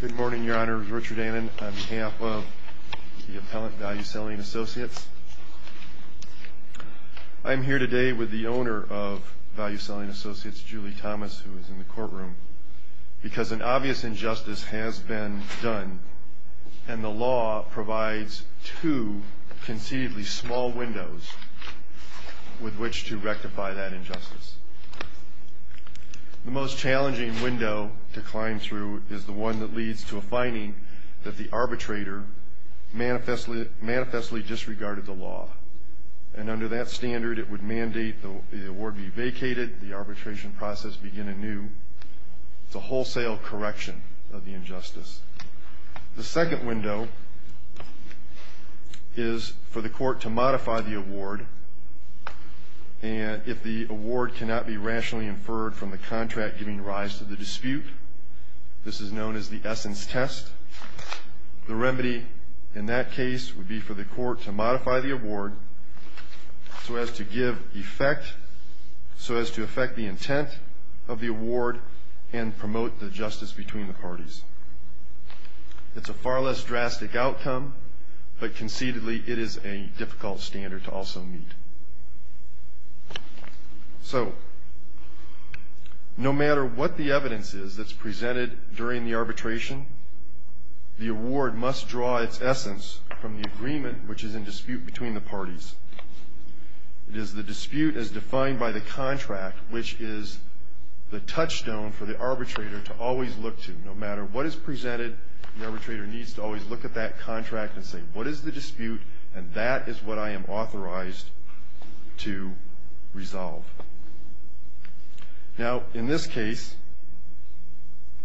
Good morning, Your Honors. Richard Annan on behalf of the Appellant Value Selling Associates. I'm here today with the owner of Value Selling Associates, Julie Thomas, who is in the courtroom, because an obvious injustice has been done, and the law provides two conceivably small windows with which to rectify that injustice. The most challenging window to climb through is the one that leads to a finding that the arbitrator manifestly disregarded the law, and under that standard, it would mandate the award be vacated, the arbitration process begin anew. It's a wholesale correction of the injustice. The second window is for the court to modify the award, and if the award cannot be rationally inferred from the contract giving rise to the dispute, this is known as the essence test. The remedy in that case would be for the court to modify the award so as to give effect, so as to affect the intent of the award and promote the justice between the parties. It's a far less drastic outcome, but conceivably, it is a difficult standard to also meet. So no matter what the evidence is that's presented during the arbitration, the award must draw its essence from the agreement which is in dispute between the parties. It is the dispute as defined by the contract, which is the touchstone for the arbitrator to always look to. No matter what is presented, the arbitrator needs to always look at that contract and say, what is the dispute, and that is what I am authorized to resolve. Now, in this case,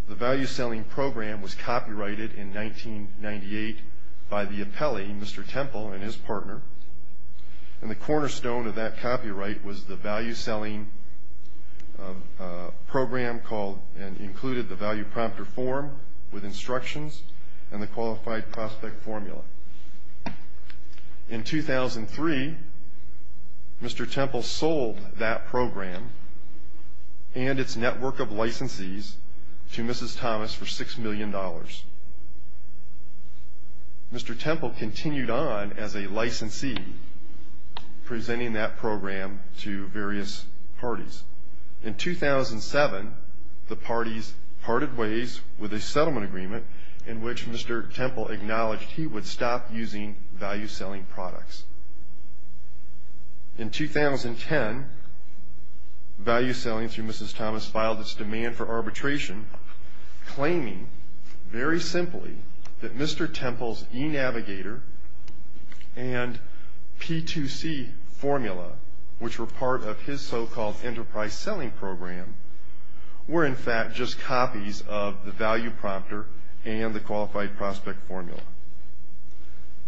the value-selling program was copyrighted in 1998 by the appellee, Mr. Temple, and his partner, and the cornerstone of that copyright was the value-selling program called and included the value prompter form with instructions and the qualified prospect formula. In 2003, Mr. Temple sold that program and its network of licensees to Mrs. Thomas for $6 million. Mr. Temple continued on as a licensee, presenting that program to various parties. In 2007, the parties parted ways with a settlement agreement in which Mr. Temple acknowledged he would stop using value-selling products. In 2010, value-selling through Mrs. Thomas filed its demand for arbitration, claiming very simply that Mr. Temple's e-navigator and P2C formula, which were part of his so-called enterprise selling program, were in fact just copies of the value prompter and the qualified prospect formula.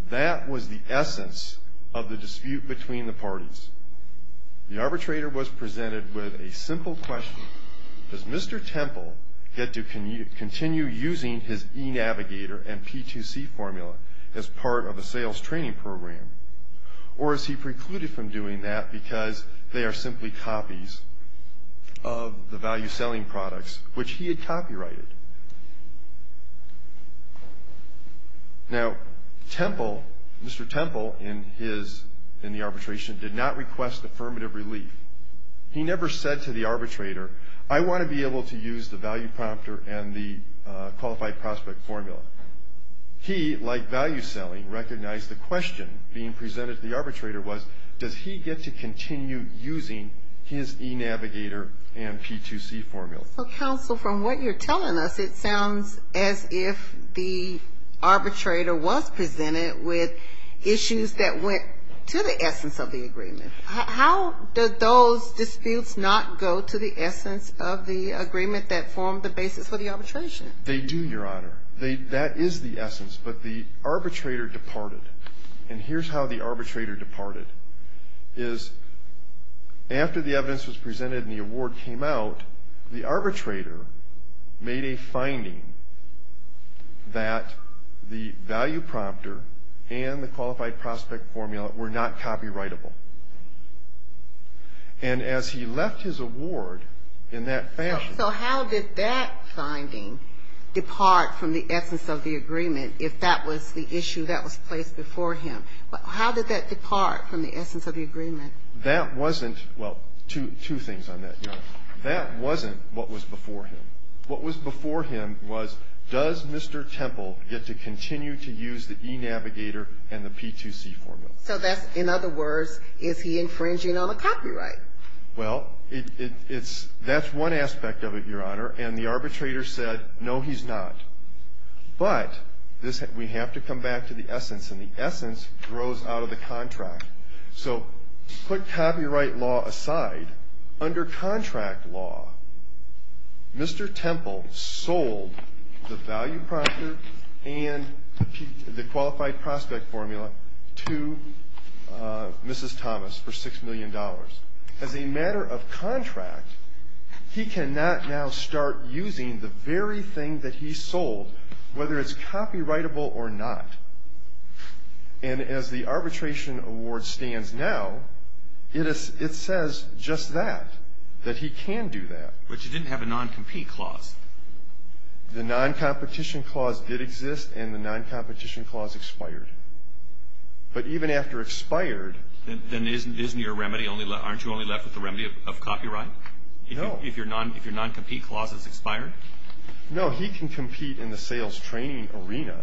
That was the essence of the dispute between the parties. The arbitrator was presented with a simple question. Does Mr. Temple get to continue using his e-navigator and P2C formula as part of a sales training program, or is he precluded from doing that because they are simply copies of the value-selling products, which he had copyrighted? Now, Mr. Temple, in the arbitration, did not request affirmative relief. He never said to the arbitrator, I want to be able to use the value prompter and the qualified prospect formula. He, like value-selling, recognized the question being presented to the arbitrator was, does he get to continue using his e-navigator and P2C formula? Well, counsel, from what you're telling us, it sounds as if the arbitrator was presented with issues that went to the essence of the agreement. How did those disputes not go to the essence of the agreement that formed the basis for the arbitration? They do, Your Honor. That is the essence, but the arbitrator departed. And here's how the arbitrator departed, is after the evidence was presented and the award came out, the arbitrator made a finding that the value prompter and the qualified prospect formula were not copyrightable. And as he left his award in that fashion. So how did that finding depart from the essence of the agreement, if that was the issue that was placed before him? How did that depart from the essence of the agreement? That wasn't, well, two things on that, Your Honor. That wasn't what was before him. What was before him was, does Mr. Temple get to continue to use the e-navigator and the P2C formula? So that's, in other words, is he infringing on the copyright? Well, it's, that's one aspect of it, Your Honor, and the arbitrator said, no, he's not. But we have to come back to the essence, and the essence grows out of the contract. So put copyright law aside. Under contract law, Mr. Temple sold the value prompter and the qualified prospect formula to Mrs. Thomas for $6 million. As a matter of contract, he cannot now start using the very thing that he sold, whether it's copyrightable or not. And as the arbitration award stands now, it says just that, that he can do that. But you didn't have a non-compete clause. The non-competition clause did exist, and the non-competition clause expired. But even after expired. Then isn't your remedy, aren't you only left with the remedy of copyright? No. If your non-compete clause is expired? No, he can compete in the sales training arena,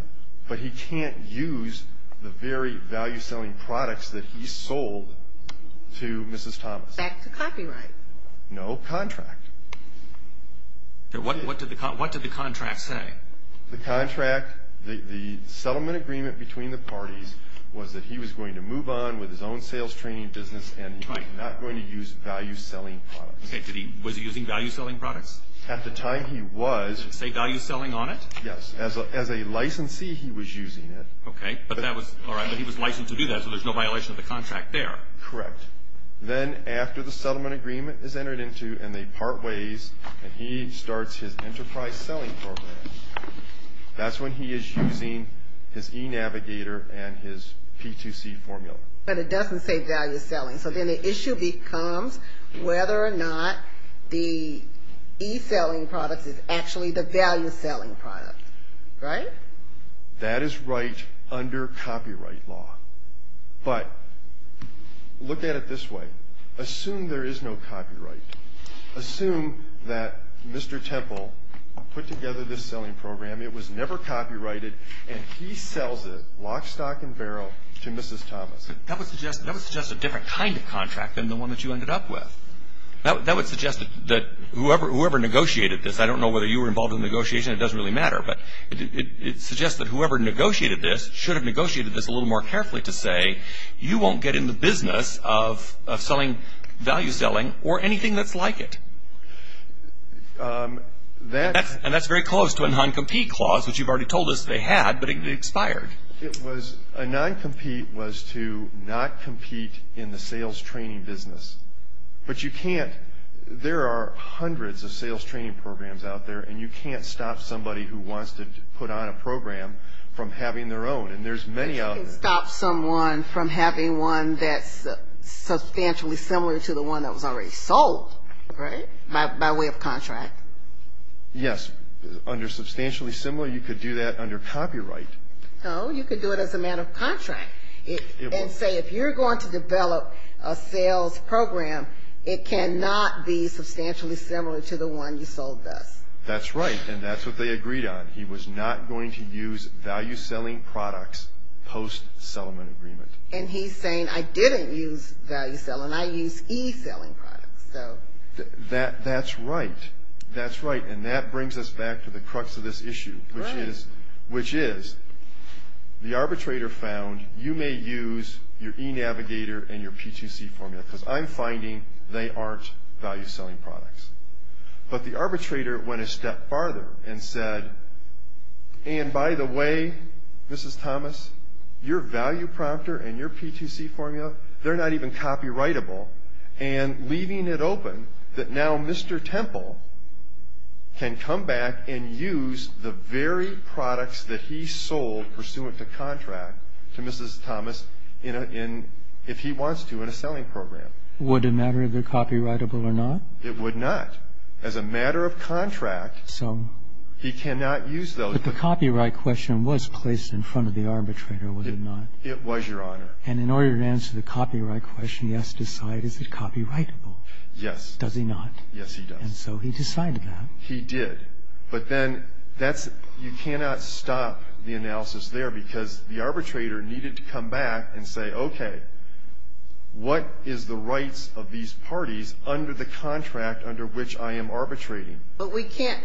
but he can't use the very value selling products that he sold to Mrs. Thomas. Back to copyright. No contract. What did the contract say? The contract, the settlement agreement between the parties was that he was going to move on with his own sales training business, and he was not going to use value selling products. Okay, did he, was he using value selling products? At the time he was. Did it say value selling on it? Yes. As a licensee, he was using it. Okay, but that was, all right, but he was licensed to do that, so there's no violation of the contract there. Correct. Then after the settlement agreement is entered into, and they part ways, and he starts his enterprise selling program, that's when he is using his e-navigator and his P2C formula. But it doesn't say value selling. So then the issue becomes whether or not the e-selling product is actually the value selling product, right? That is right under copyright law, but look at it this way. Assume there is no copyright. Assume that Mr. Temple put together this selling program. It was never copyrighted, and he sells it lock, stock, and barrel to Mrs. Thomas. That would suggest a different kind of contract than the one that you ended up with. That would suggest that whoever negotiated this, I don't know whether you were involved in the negotiation, it doesn't really matter, but it suggests that whoever negotiated this should have negotiated this a little more carefully to say, you won't get in the business of selling value selling or anything that's like it. And that's very close to a non-compete clause, which you've already told us they had, but it expired. It was, a non-compete was to not compete in the sales training business. But you can't, there are hundreds of sales training programs out there, and you can't stop somebody who wants to put on a program from having their own, and there's many out there. You can't stop someone from having one that's substantially similar to the one that was already sold, right, by way of contract. Yes, under substantially similar, you could do that under copyright. No, you could do it as a matter of contract, and say if you're going to develop a sales program, it cannot be substantially similar to the one you sold us. That's right, and that's what they agreed on. He was not going to use value selling products post-sellment agreement. And he's saying I didn't use value selling, I used e-selling products, so. That's right, that's right, and that brings us back to the crux of this issue. Right. Which is, the arbitrator found you may use your e-navigator and your P2C formula, because I'm finding they aren't value selling products. But the arbitrator went a step farther and said, and by the way, Mrs. Thomas, your value prompter and your P2C formula, they're not even copyrightable. And leaving it open, that now Mr. Temple can come back and use the very products that he sold pursuant to contract to Mrs. Thomas in a, if he wants to, in a selling program. Would it matter if they're copyrightable or not? It would not. As a matter of contract. So. He cannot use those. But the copyright question was placed in front of the arbitrator, was it not? It was, Your Honor. And in order to answer the copyright question, he has to decide, is it copyrightable? Yes. Does he not? Yes, he does. And so he decided that. He did. But then that's, you cannot stop the analysis there, because the arbitrator needed to come back and say, okay, what is the rights of these parties under the contract under which I am arbitrating? But we can't.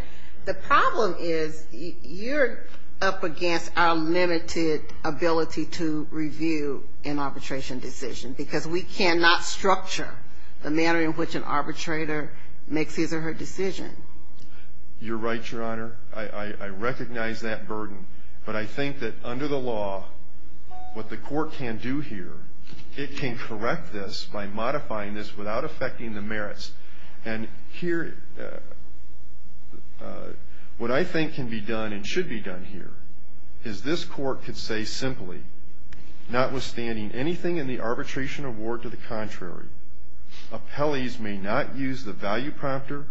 The problem is you're up against our limited ability to review an arbitration decision, because we cannot structure the manner in which an arbitrator makes his or her decision. You're right, Your Honor. I recognize that burden. But I think that under the law, what the court can do here, it can correct this by modifying this without affecting the merits. And here, what I think can be done and should be done here is this court could say simply, notwithstanding anything in the arbitration award to the contrary, appellees may not use the value prompter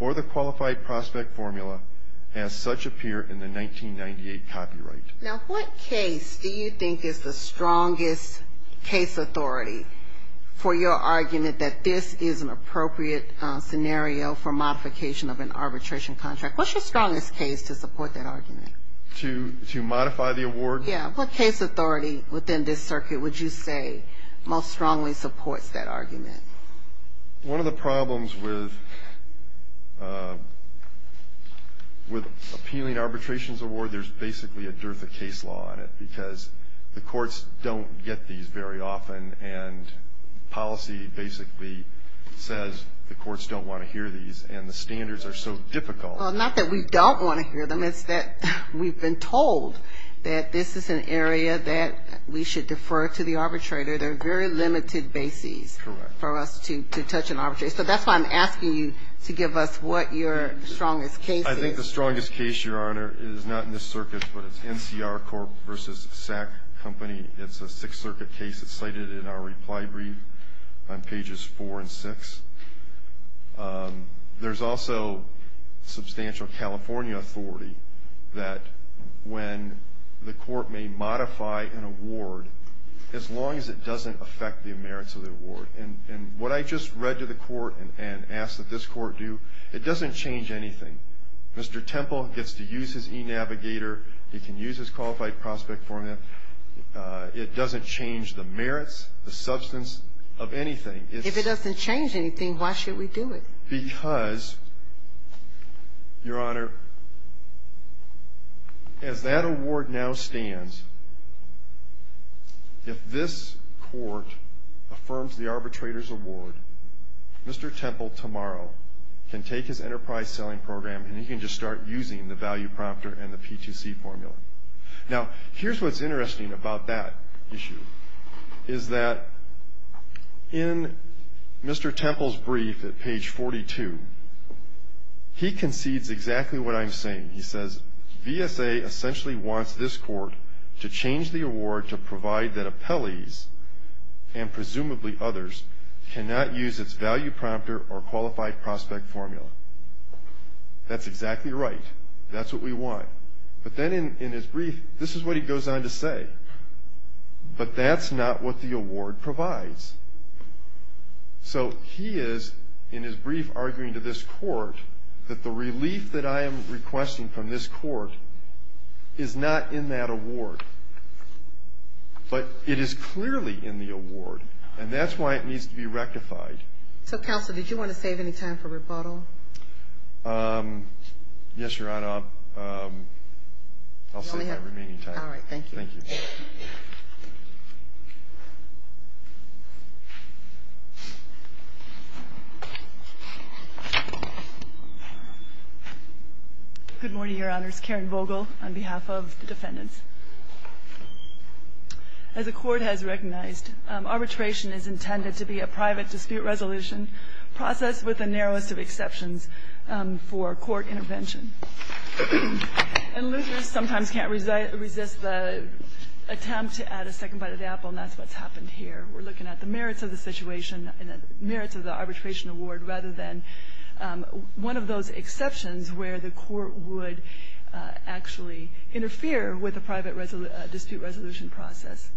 or the qualified prospect formula as such appear in the 1998 copyright. Now, what case do you think is the strongest case authority for your argument that this is an appropriate scenario for modification of an arbitration contract? What's your strongest case to support that argument? To modify the award? Yes. What case authority within this circuit would you say most strongly supports that argument? One of the problems with appealing arbitrations award, there's basically a dearth of case law in it, because the courts don't get these very often, and policy basically says the courts don't want to hear these, and the standards are so difficult. Well, not that we don't want to hear them. It's that we've been told that this is an area that we should defer to the arbitrator. There are very limited bases for us to touch an arbitrator. So that's why I'm asking you to give us what your strongest case is. I think the strongest case, Your Honor, is not in this circuit, but it's NCR Corp. v. SAC Company. It's a Sixth Circuit case. It's cited in our reply brief on pages 4 and 6. There's also substantial California authority that when the court may modify an award, as long as it doesn't affect the merits of the award. And what I just read to the court and asked that this court do, it doesn't change anything. Mr. Temple gets to use his e-navigator. He can use his qualified prospect formula. It doesn't change the merits, the substance of anything. If it doesn't change anything, why should we do it? Because, Your Honor, as that award now stands, if this court affirms the arbitrator's award, Mr. Temple tomorrow can take his enterprise selling program and he can just start using the value prompter and the P2C formula. Now, here's what's interesting about that issue, is that in Mr. Temple's brief at page 42, he concedes exactly what I'm saying. He says, VSA essentially wants this court to change the award to provide that appellees and presumably others cannot use its value prompter or qualified prospect formula. That's exactly right. That's what we want. But then in his brief, this is what he goes on to say. But that's not what the award provides. So he is, in his brief, arguing to this court that the relief that I am requesting from this court is not in that award, but it is clearly in the award. And that's why it needs to be rectified. So, Counsel, did you want to save any time for rebuttal? Yes, Your Honor. I'll save my remaining time. All right. Thank you. Thank you. Good morning, Your Honors. Karen Vogel on behalf of the defendants. As the Court has recognized, arbitration is intended to be a private dispute resolution processed with the narrowest of exceptions for court intervention. And losers sometimes can't resist the attempt to add a second bite to the apple, and that's what's happened here. We're looking at the merits of the situation and the merits of the arbitration award rather than one of those exceptions where the court would actually interfere with a private dispute resolution process.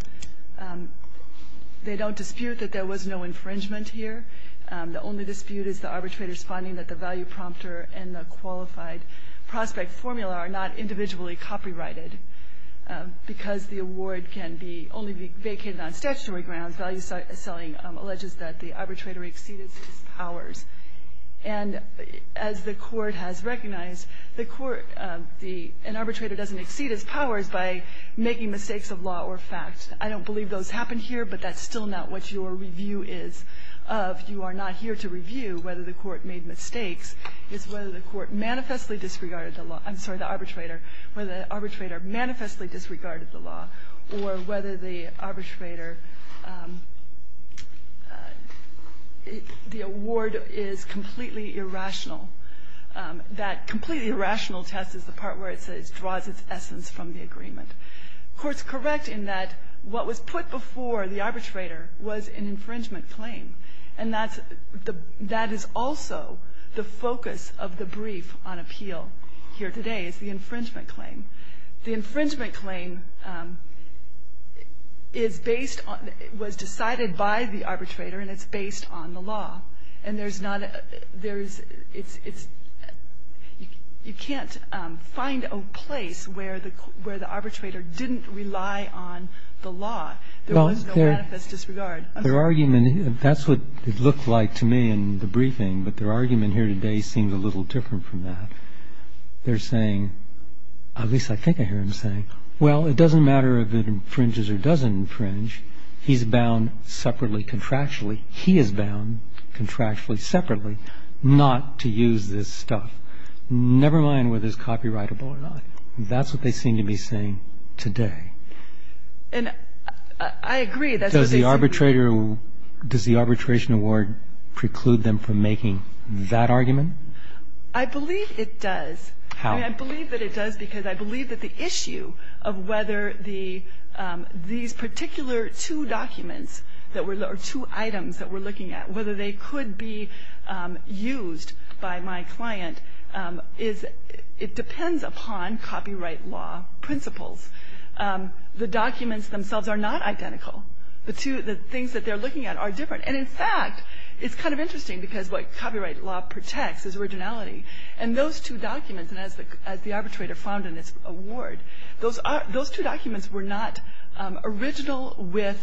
They don't dispute that there was no infringement here. The only dispute is the arbitrator's finding that the value prompter and the qualified prospect formula are not individually copyrighted. Because the award can only be vacated on statutory grounds, value selling alleges that the arbitrator exceeds his powers. And as the Court has recognized, an arbitrator doesn't exceed his powers by making mistakes of law or fact. I don't believe those happen here, but that's still not what your review is of. You are not here to review whether the Court made mistakes. It's whether the Court manifestly disregarded the law. I'm sorry, the arbitrator. Whether the arbitrator manifestly disregarded the law or whether the arbitrator the award is completely irrational. That completely irrational test is the part where it draws its essence from the agreement. The Court's correct in that what was put before the arbitrator was an infringement claim. And that is also the focus of the brief on appeal here today is the infringement claim. The infringement claim is based on the arbitrator and it's based on the law. And there's not a, there's, it's, you can't find a place where the arbitrator didn't rely on the law. There was no manifest disregard. Their argument, that's what it looked like to me in the briefing, but their argument here today seems a little different from that. They're saying, at least I think I hear them saying, well, it doesn't matter if it infringes or doesn't infringe. He's bound separately, contractually. He is bound contractually, separately, not to use this stuff. Never mind whether it's copyrightable or not. That's what they seem to be saying today. And I agree. Does the arbitrator, does the arbitration award preclude them from making that argument? I believe it does. How? I believe that it does because I believe that the issue of whether the, these particular two documents that were, or two items that we're looking at, whether they could be used by my client is, it depends upon copyright law principles. The documents themselves are not identical. The two, the things that they're looking at are different. And in fact, it's kind of interesting because what copyright law protects is originality. And those two documents, and as the arbitrator found in its award, those two documents were not original with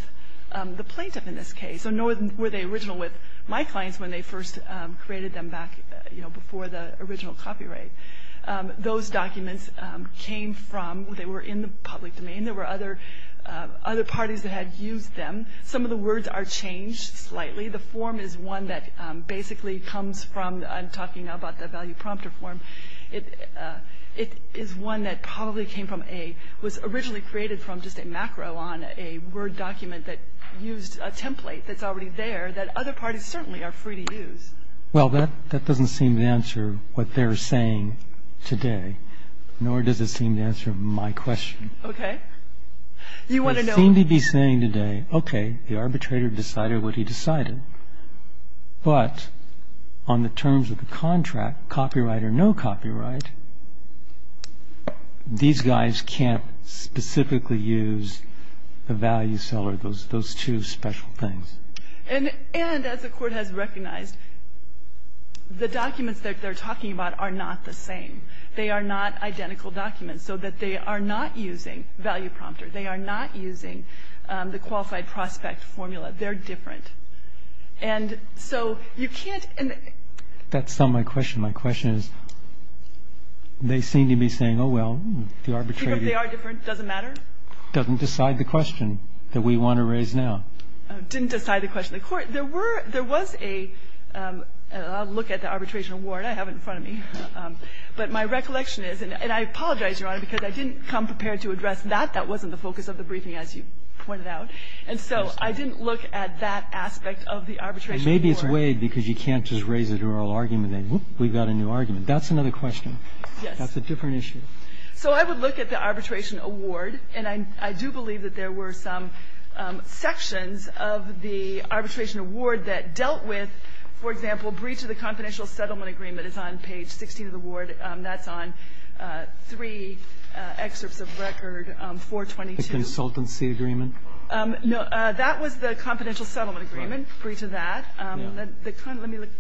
the plaintiff in this case, nor were they original with my clients when they first created them back, you know, before the original copyright. Those documents came from, they were in the public domain. There were other parties that had used them. Some of the words are changed slightly. The form is one that basically comes from, I'm talking about the value prompter form. It is one that probably came from a, was originally created from just a macro on a Word document that used a template that's already there that other parties certainly are free to use. Well, that doesn't seem to answer what they're saying today, nor does it seem to answer my question. Okay. You want to know. It seemed to be saying today, okay, the arbitrator decided what he decided. But on the terms of the contract, copyright or no copyright, these guys can't specifically use the value seller, those two special things. And as the Court has recognized, the documents that they're talking about are not the same. They are not identical documents, so that they are not using value prompter. They are not using the qualified prospect formula. They're different. And so you can't. That's not my question. My question is, they seem to be saying, oh, well, the arbitrator. They are different, doesn't matter. Doesn't decide the question that we want to raise now. Didn't decide the question. The Court, there was a, I'll look at the arbitration award I have in front of me. But my recollection is, and I apologize, Your Honor, because I didn't come prepared to address that. That wasn't the focus of the briefing, as you pointed out. And so I didn't look at that aspect of the arbitration award. Maybe it's waived because you can't just raise an oral argument and, whoop, we've got a new argument. That's another question. Yes. That's a different issue. So I would look at the arbitration award. And I do believe that there were some sections of the arbitration award that dealt with, for example, breach of the confidential settlement agreement is on page 16 of the award. That's on three excerpts of record, 422. The consultancy agreement? No. That was the confidential settlement agreement. Breach of that. Let me look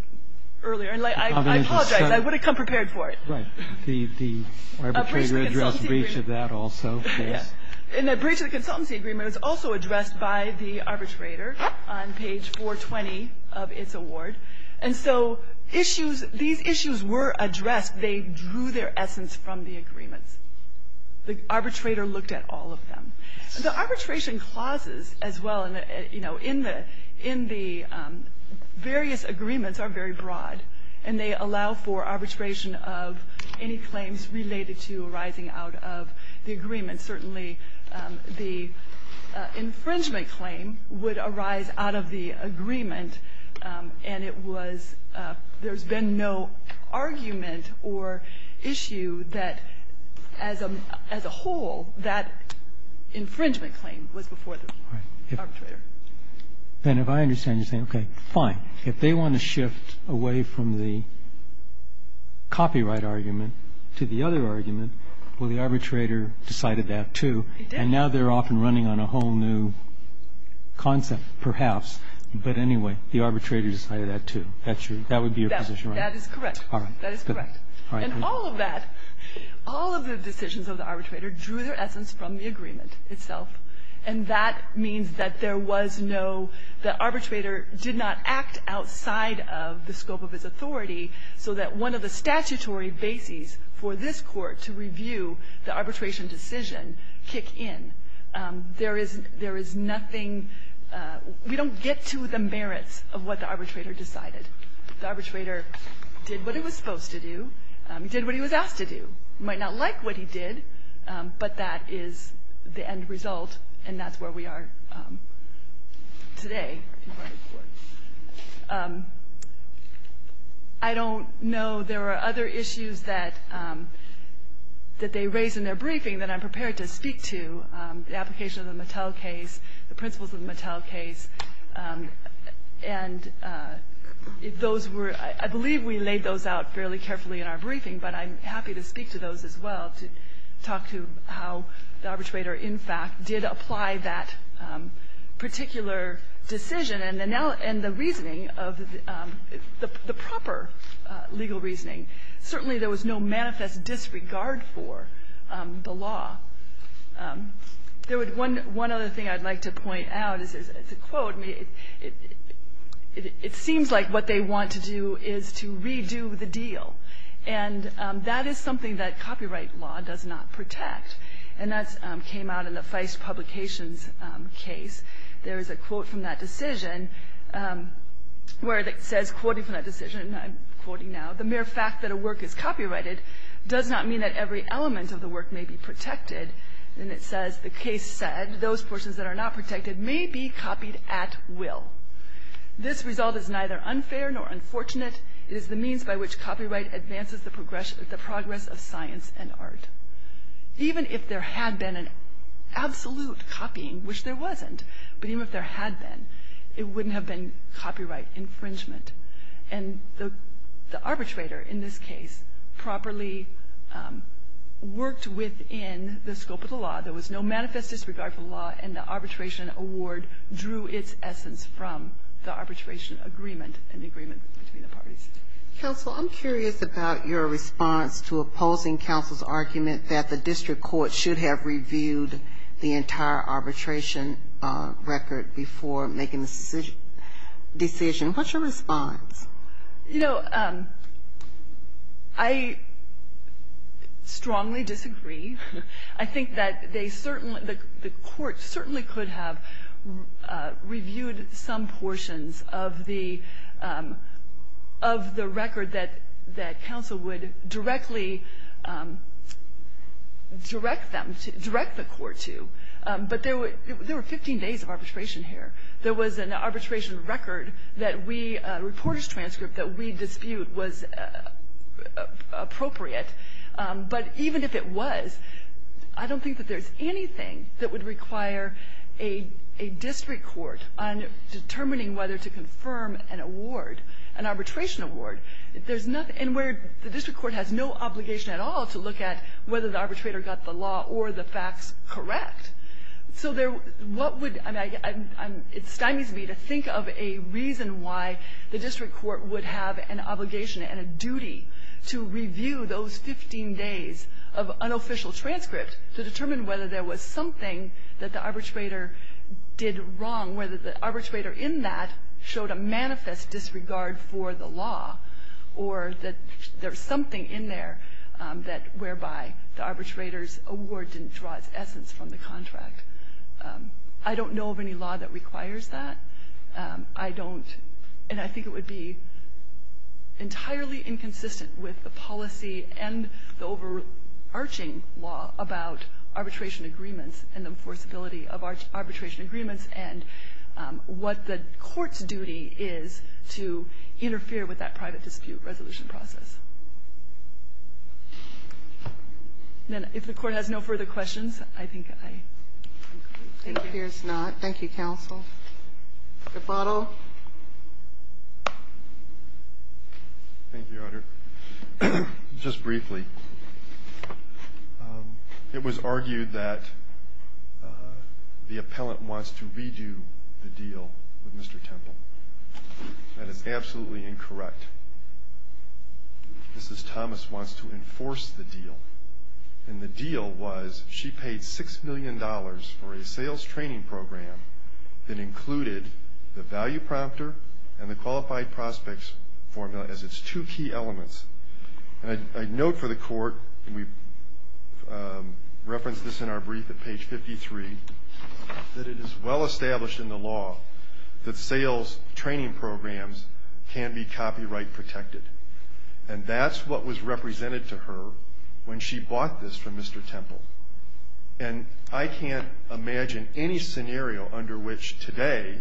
earlier. And I apologize. I would have come prepared for it. Right. The arbitrator addressed breach of that also. Yes. And the breach of the consultancy agreement is also addressed by the arbitrator on page 420 of its award. And so issues, these issues were addressed. They drew their essence from the agreements. The arbitrator looked at all of them. The arbitration clauses as well, you know, in the various agreements are very broad. And they allow for arbitration of any claims related to arising out of the agreement. Certainly the infringement claim would arise out of the agreement. And it was there's been no argument or issue that as a whole that infringement claim was before the arbitrator. Then if I understand you're saying, okay, fine. If they want to shift away from the copyright argument to the other argument, well, the arbitrator decided that, too. He did. And now they're off and running on a whole new concept, perhaps. But anyway, the arbitrator decided that, too. That would be your position, right? That is correct. That is correct. And all of that, all of the decisions of the arbitrator drew their essence from the agreement itself. And that means that there was no, the arbitrator did not act outside of the scope of his authority so that one of the statutory bases for this Court to review the arbitration decision kick in. There is nothing, we don't get to the merits of what the arbitrator decided. The arbitrator did what he was supposed to do. He did what he was asked to do. You might not like what he did, but that is the end result, and that's where we are today in court. I don't know. There are other issues that they raised in their briefing that I'm prepared to speak to, the application of the Mattel case, the principles of the Mattel case. And those were, I believe we laid those out fairly carefully in our briefing, but I'm happy to speak to those as well, to talk to how the arbitrator, in fact, did apply that particular decision. And the reasoning of the proper legal reasoning, certainly there was no manifest disregard for the law. There was one other thing I'd like to point out. It's a quote. It seems like what they want to do is to redo the deal. And that is something that copyright law does not protect. And that came out in the Feist Publications case. There is a quote from that decision where it says, quoting from that decision, and I'm quoting now, the mere fact that a work is copyrighted does not mean that every element of the work may be protected. And it says, the case said, those persons that are not protected may be copied at will. This result is neither unfair nor unfortunate. It is the means by which copyright advances the progress of science and art. Even if there had been an absolute copying, which there wasn't, but even if there had been, it wouldn't have been copyright infringement. And the arbitrator in this case properly worked within the scope of the law. There was no manifest disregard for the law, and the arbitration award drew its essence from the arbitration agreement and the agreement between the parties. Ginsburg. Counsel, I'm curious about your response to opposing counsel's argument that the district court should have reviewed the entire arbitration record before making the decision. What's your response? You know, I strongly disagree. I think that they certainly the court certainly could have reviewed some portions of the record that counsel would directly direct them to, direct the court to. But there were 15 days of arbitration here. There was an arbitration record that we, a reporter's transcript that we dispute, was appropriate. But even if it was, I don't think that there's anything that would require a district court on determining whether to confirm an award, an arbitration award. There's nothing, and where the district court has no obligation at all to look at whether the arbitrator got the law or the facts correct. So there, what would, I mean, it stymies me to think of a reason why the district court would have an obligation and a duty to review those 15 days of unofficial transcript to determine whether there was something that the arbitrator did wrong, whether the arbitrator in that showed a manifest disregard for the law, or that there's something in there that whereby the arbitrator's award didn't draw its essence from the contract. I don't know of any law that requires that. I don't, and I think it would be entirely inconsistent with the policy and the overarching law about arbitration agreements and the enforceability of arbitration agreements and what the court's duty is to interfere with that private dispute resolution process. And if the Court has no further questions, I think I'm going to end my time here. Thank you, counsel. Mr. Bottle. Thank you, Your Honor. Just briefly, it was argued that the appellant wants to redo the deal with Mr. Temple. That is absolutely incorrect. Mrs. Thomas wants to enforce the deal. And the deal was she paid $6 million for a sales training program that included the value prompter and the qualified prospects formula as its two key elements. And I note for the Court, and we referenced this in our brief at page 53, that it is well established in the law that sales training programs can be copyright protected. And that's what was represented to her when she bought this from Mr. Temple. And I can't imagine any scenario under which today,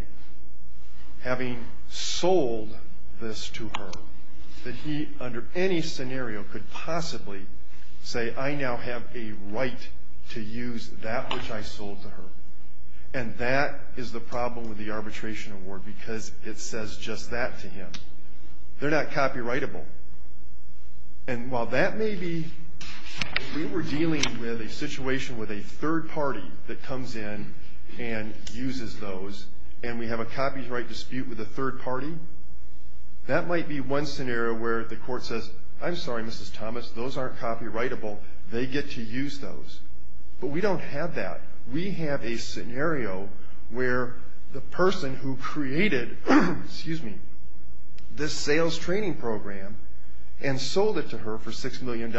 having sold this to her, that he, under any scenario, could possibly say, I now have a right to use that which I sold to her. And that is the problem with the arbitration award, because it says just that to him. They're not copyrightable. And while that may be, we were dealing with a situation with a third party that comes in and uses those, and we have a copyright dispute with a third party, that might be one scenario where the Court says, I'm sorry, Mrs. Thomas, those aren't copyrightable. They get to use those. But we don't have that. We have a scenario where the person who created this sales training program and sold it to her for $6 million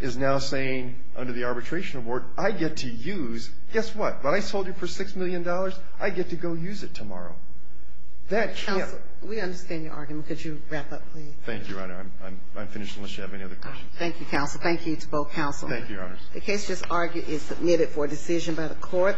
is now saying, under the arbitration award, I get to use, guess what, what I sold you for $6 million, I get to go use it tomorrow. That can't... Counsel, we understand your argument. Could you wrap up, please? Thank you, Your Honor. I'm finished unless you have any other questions. Thank you, Counsel. Thank you to both Counselors. Thank you, Your Honors. The case is submitted for decision by the Court.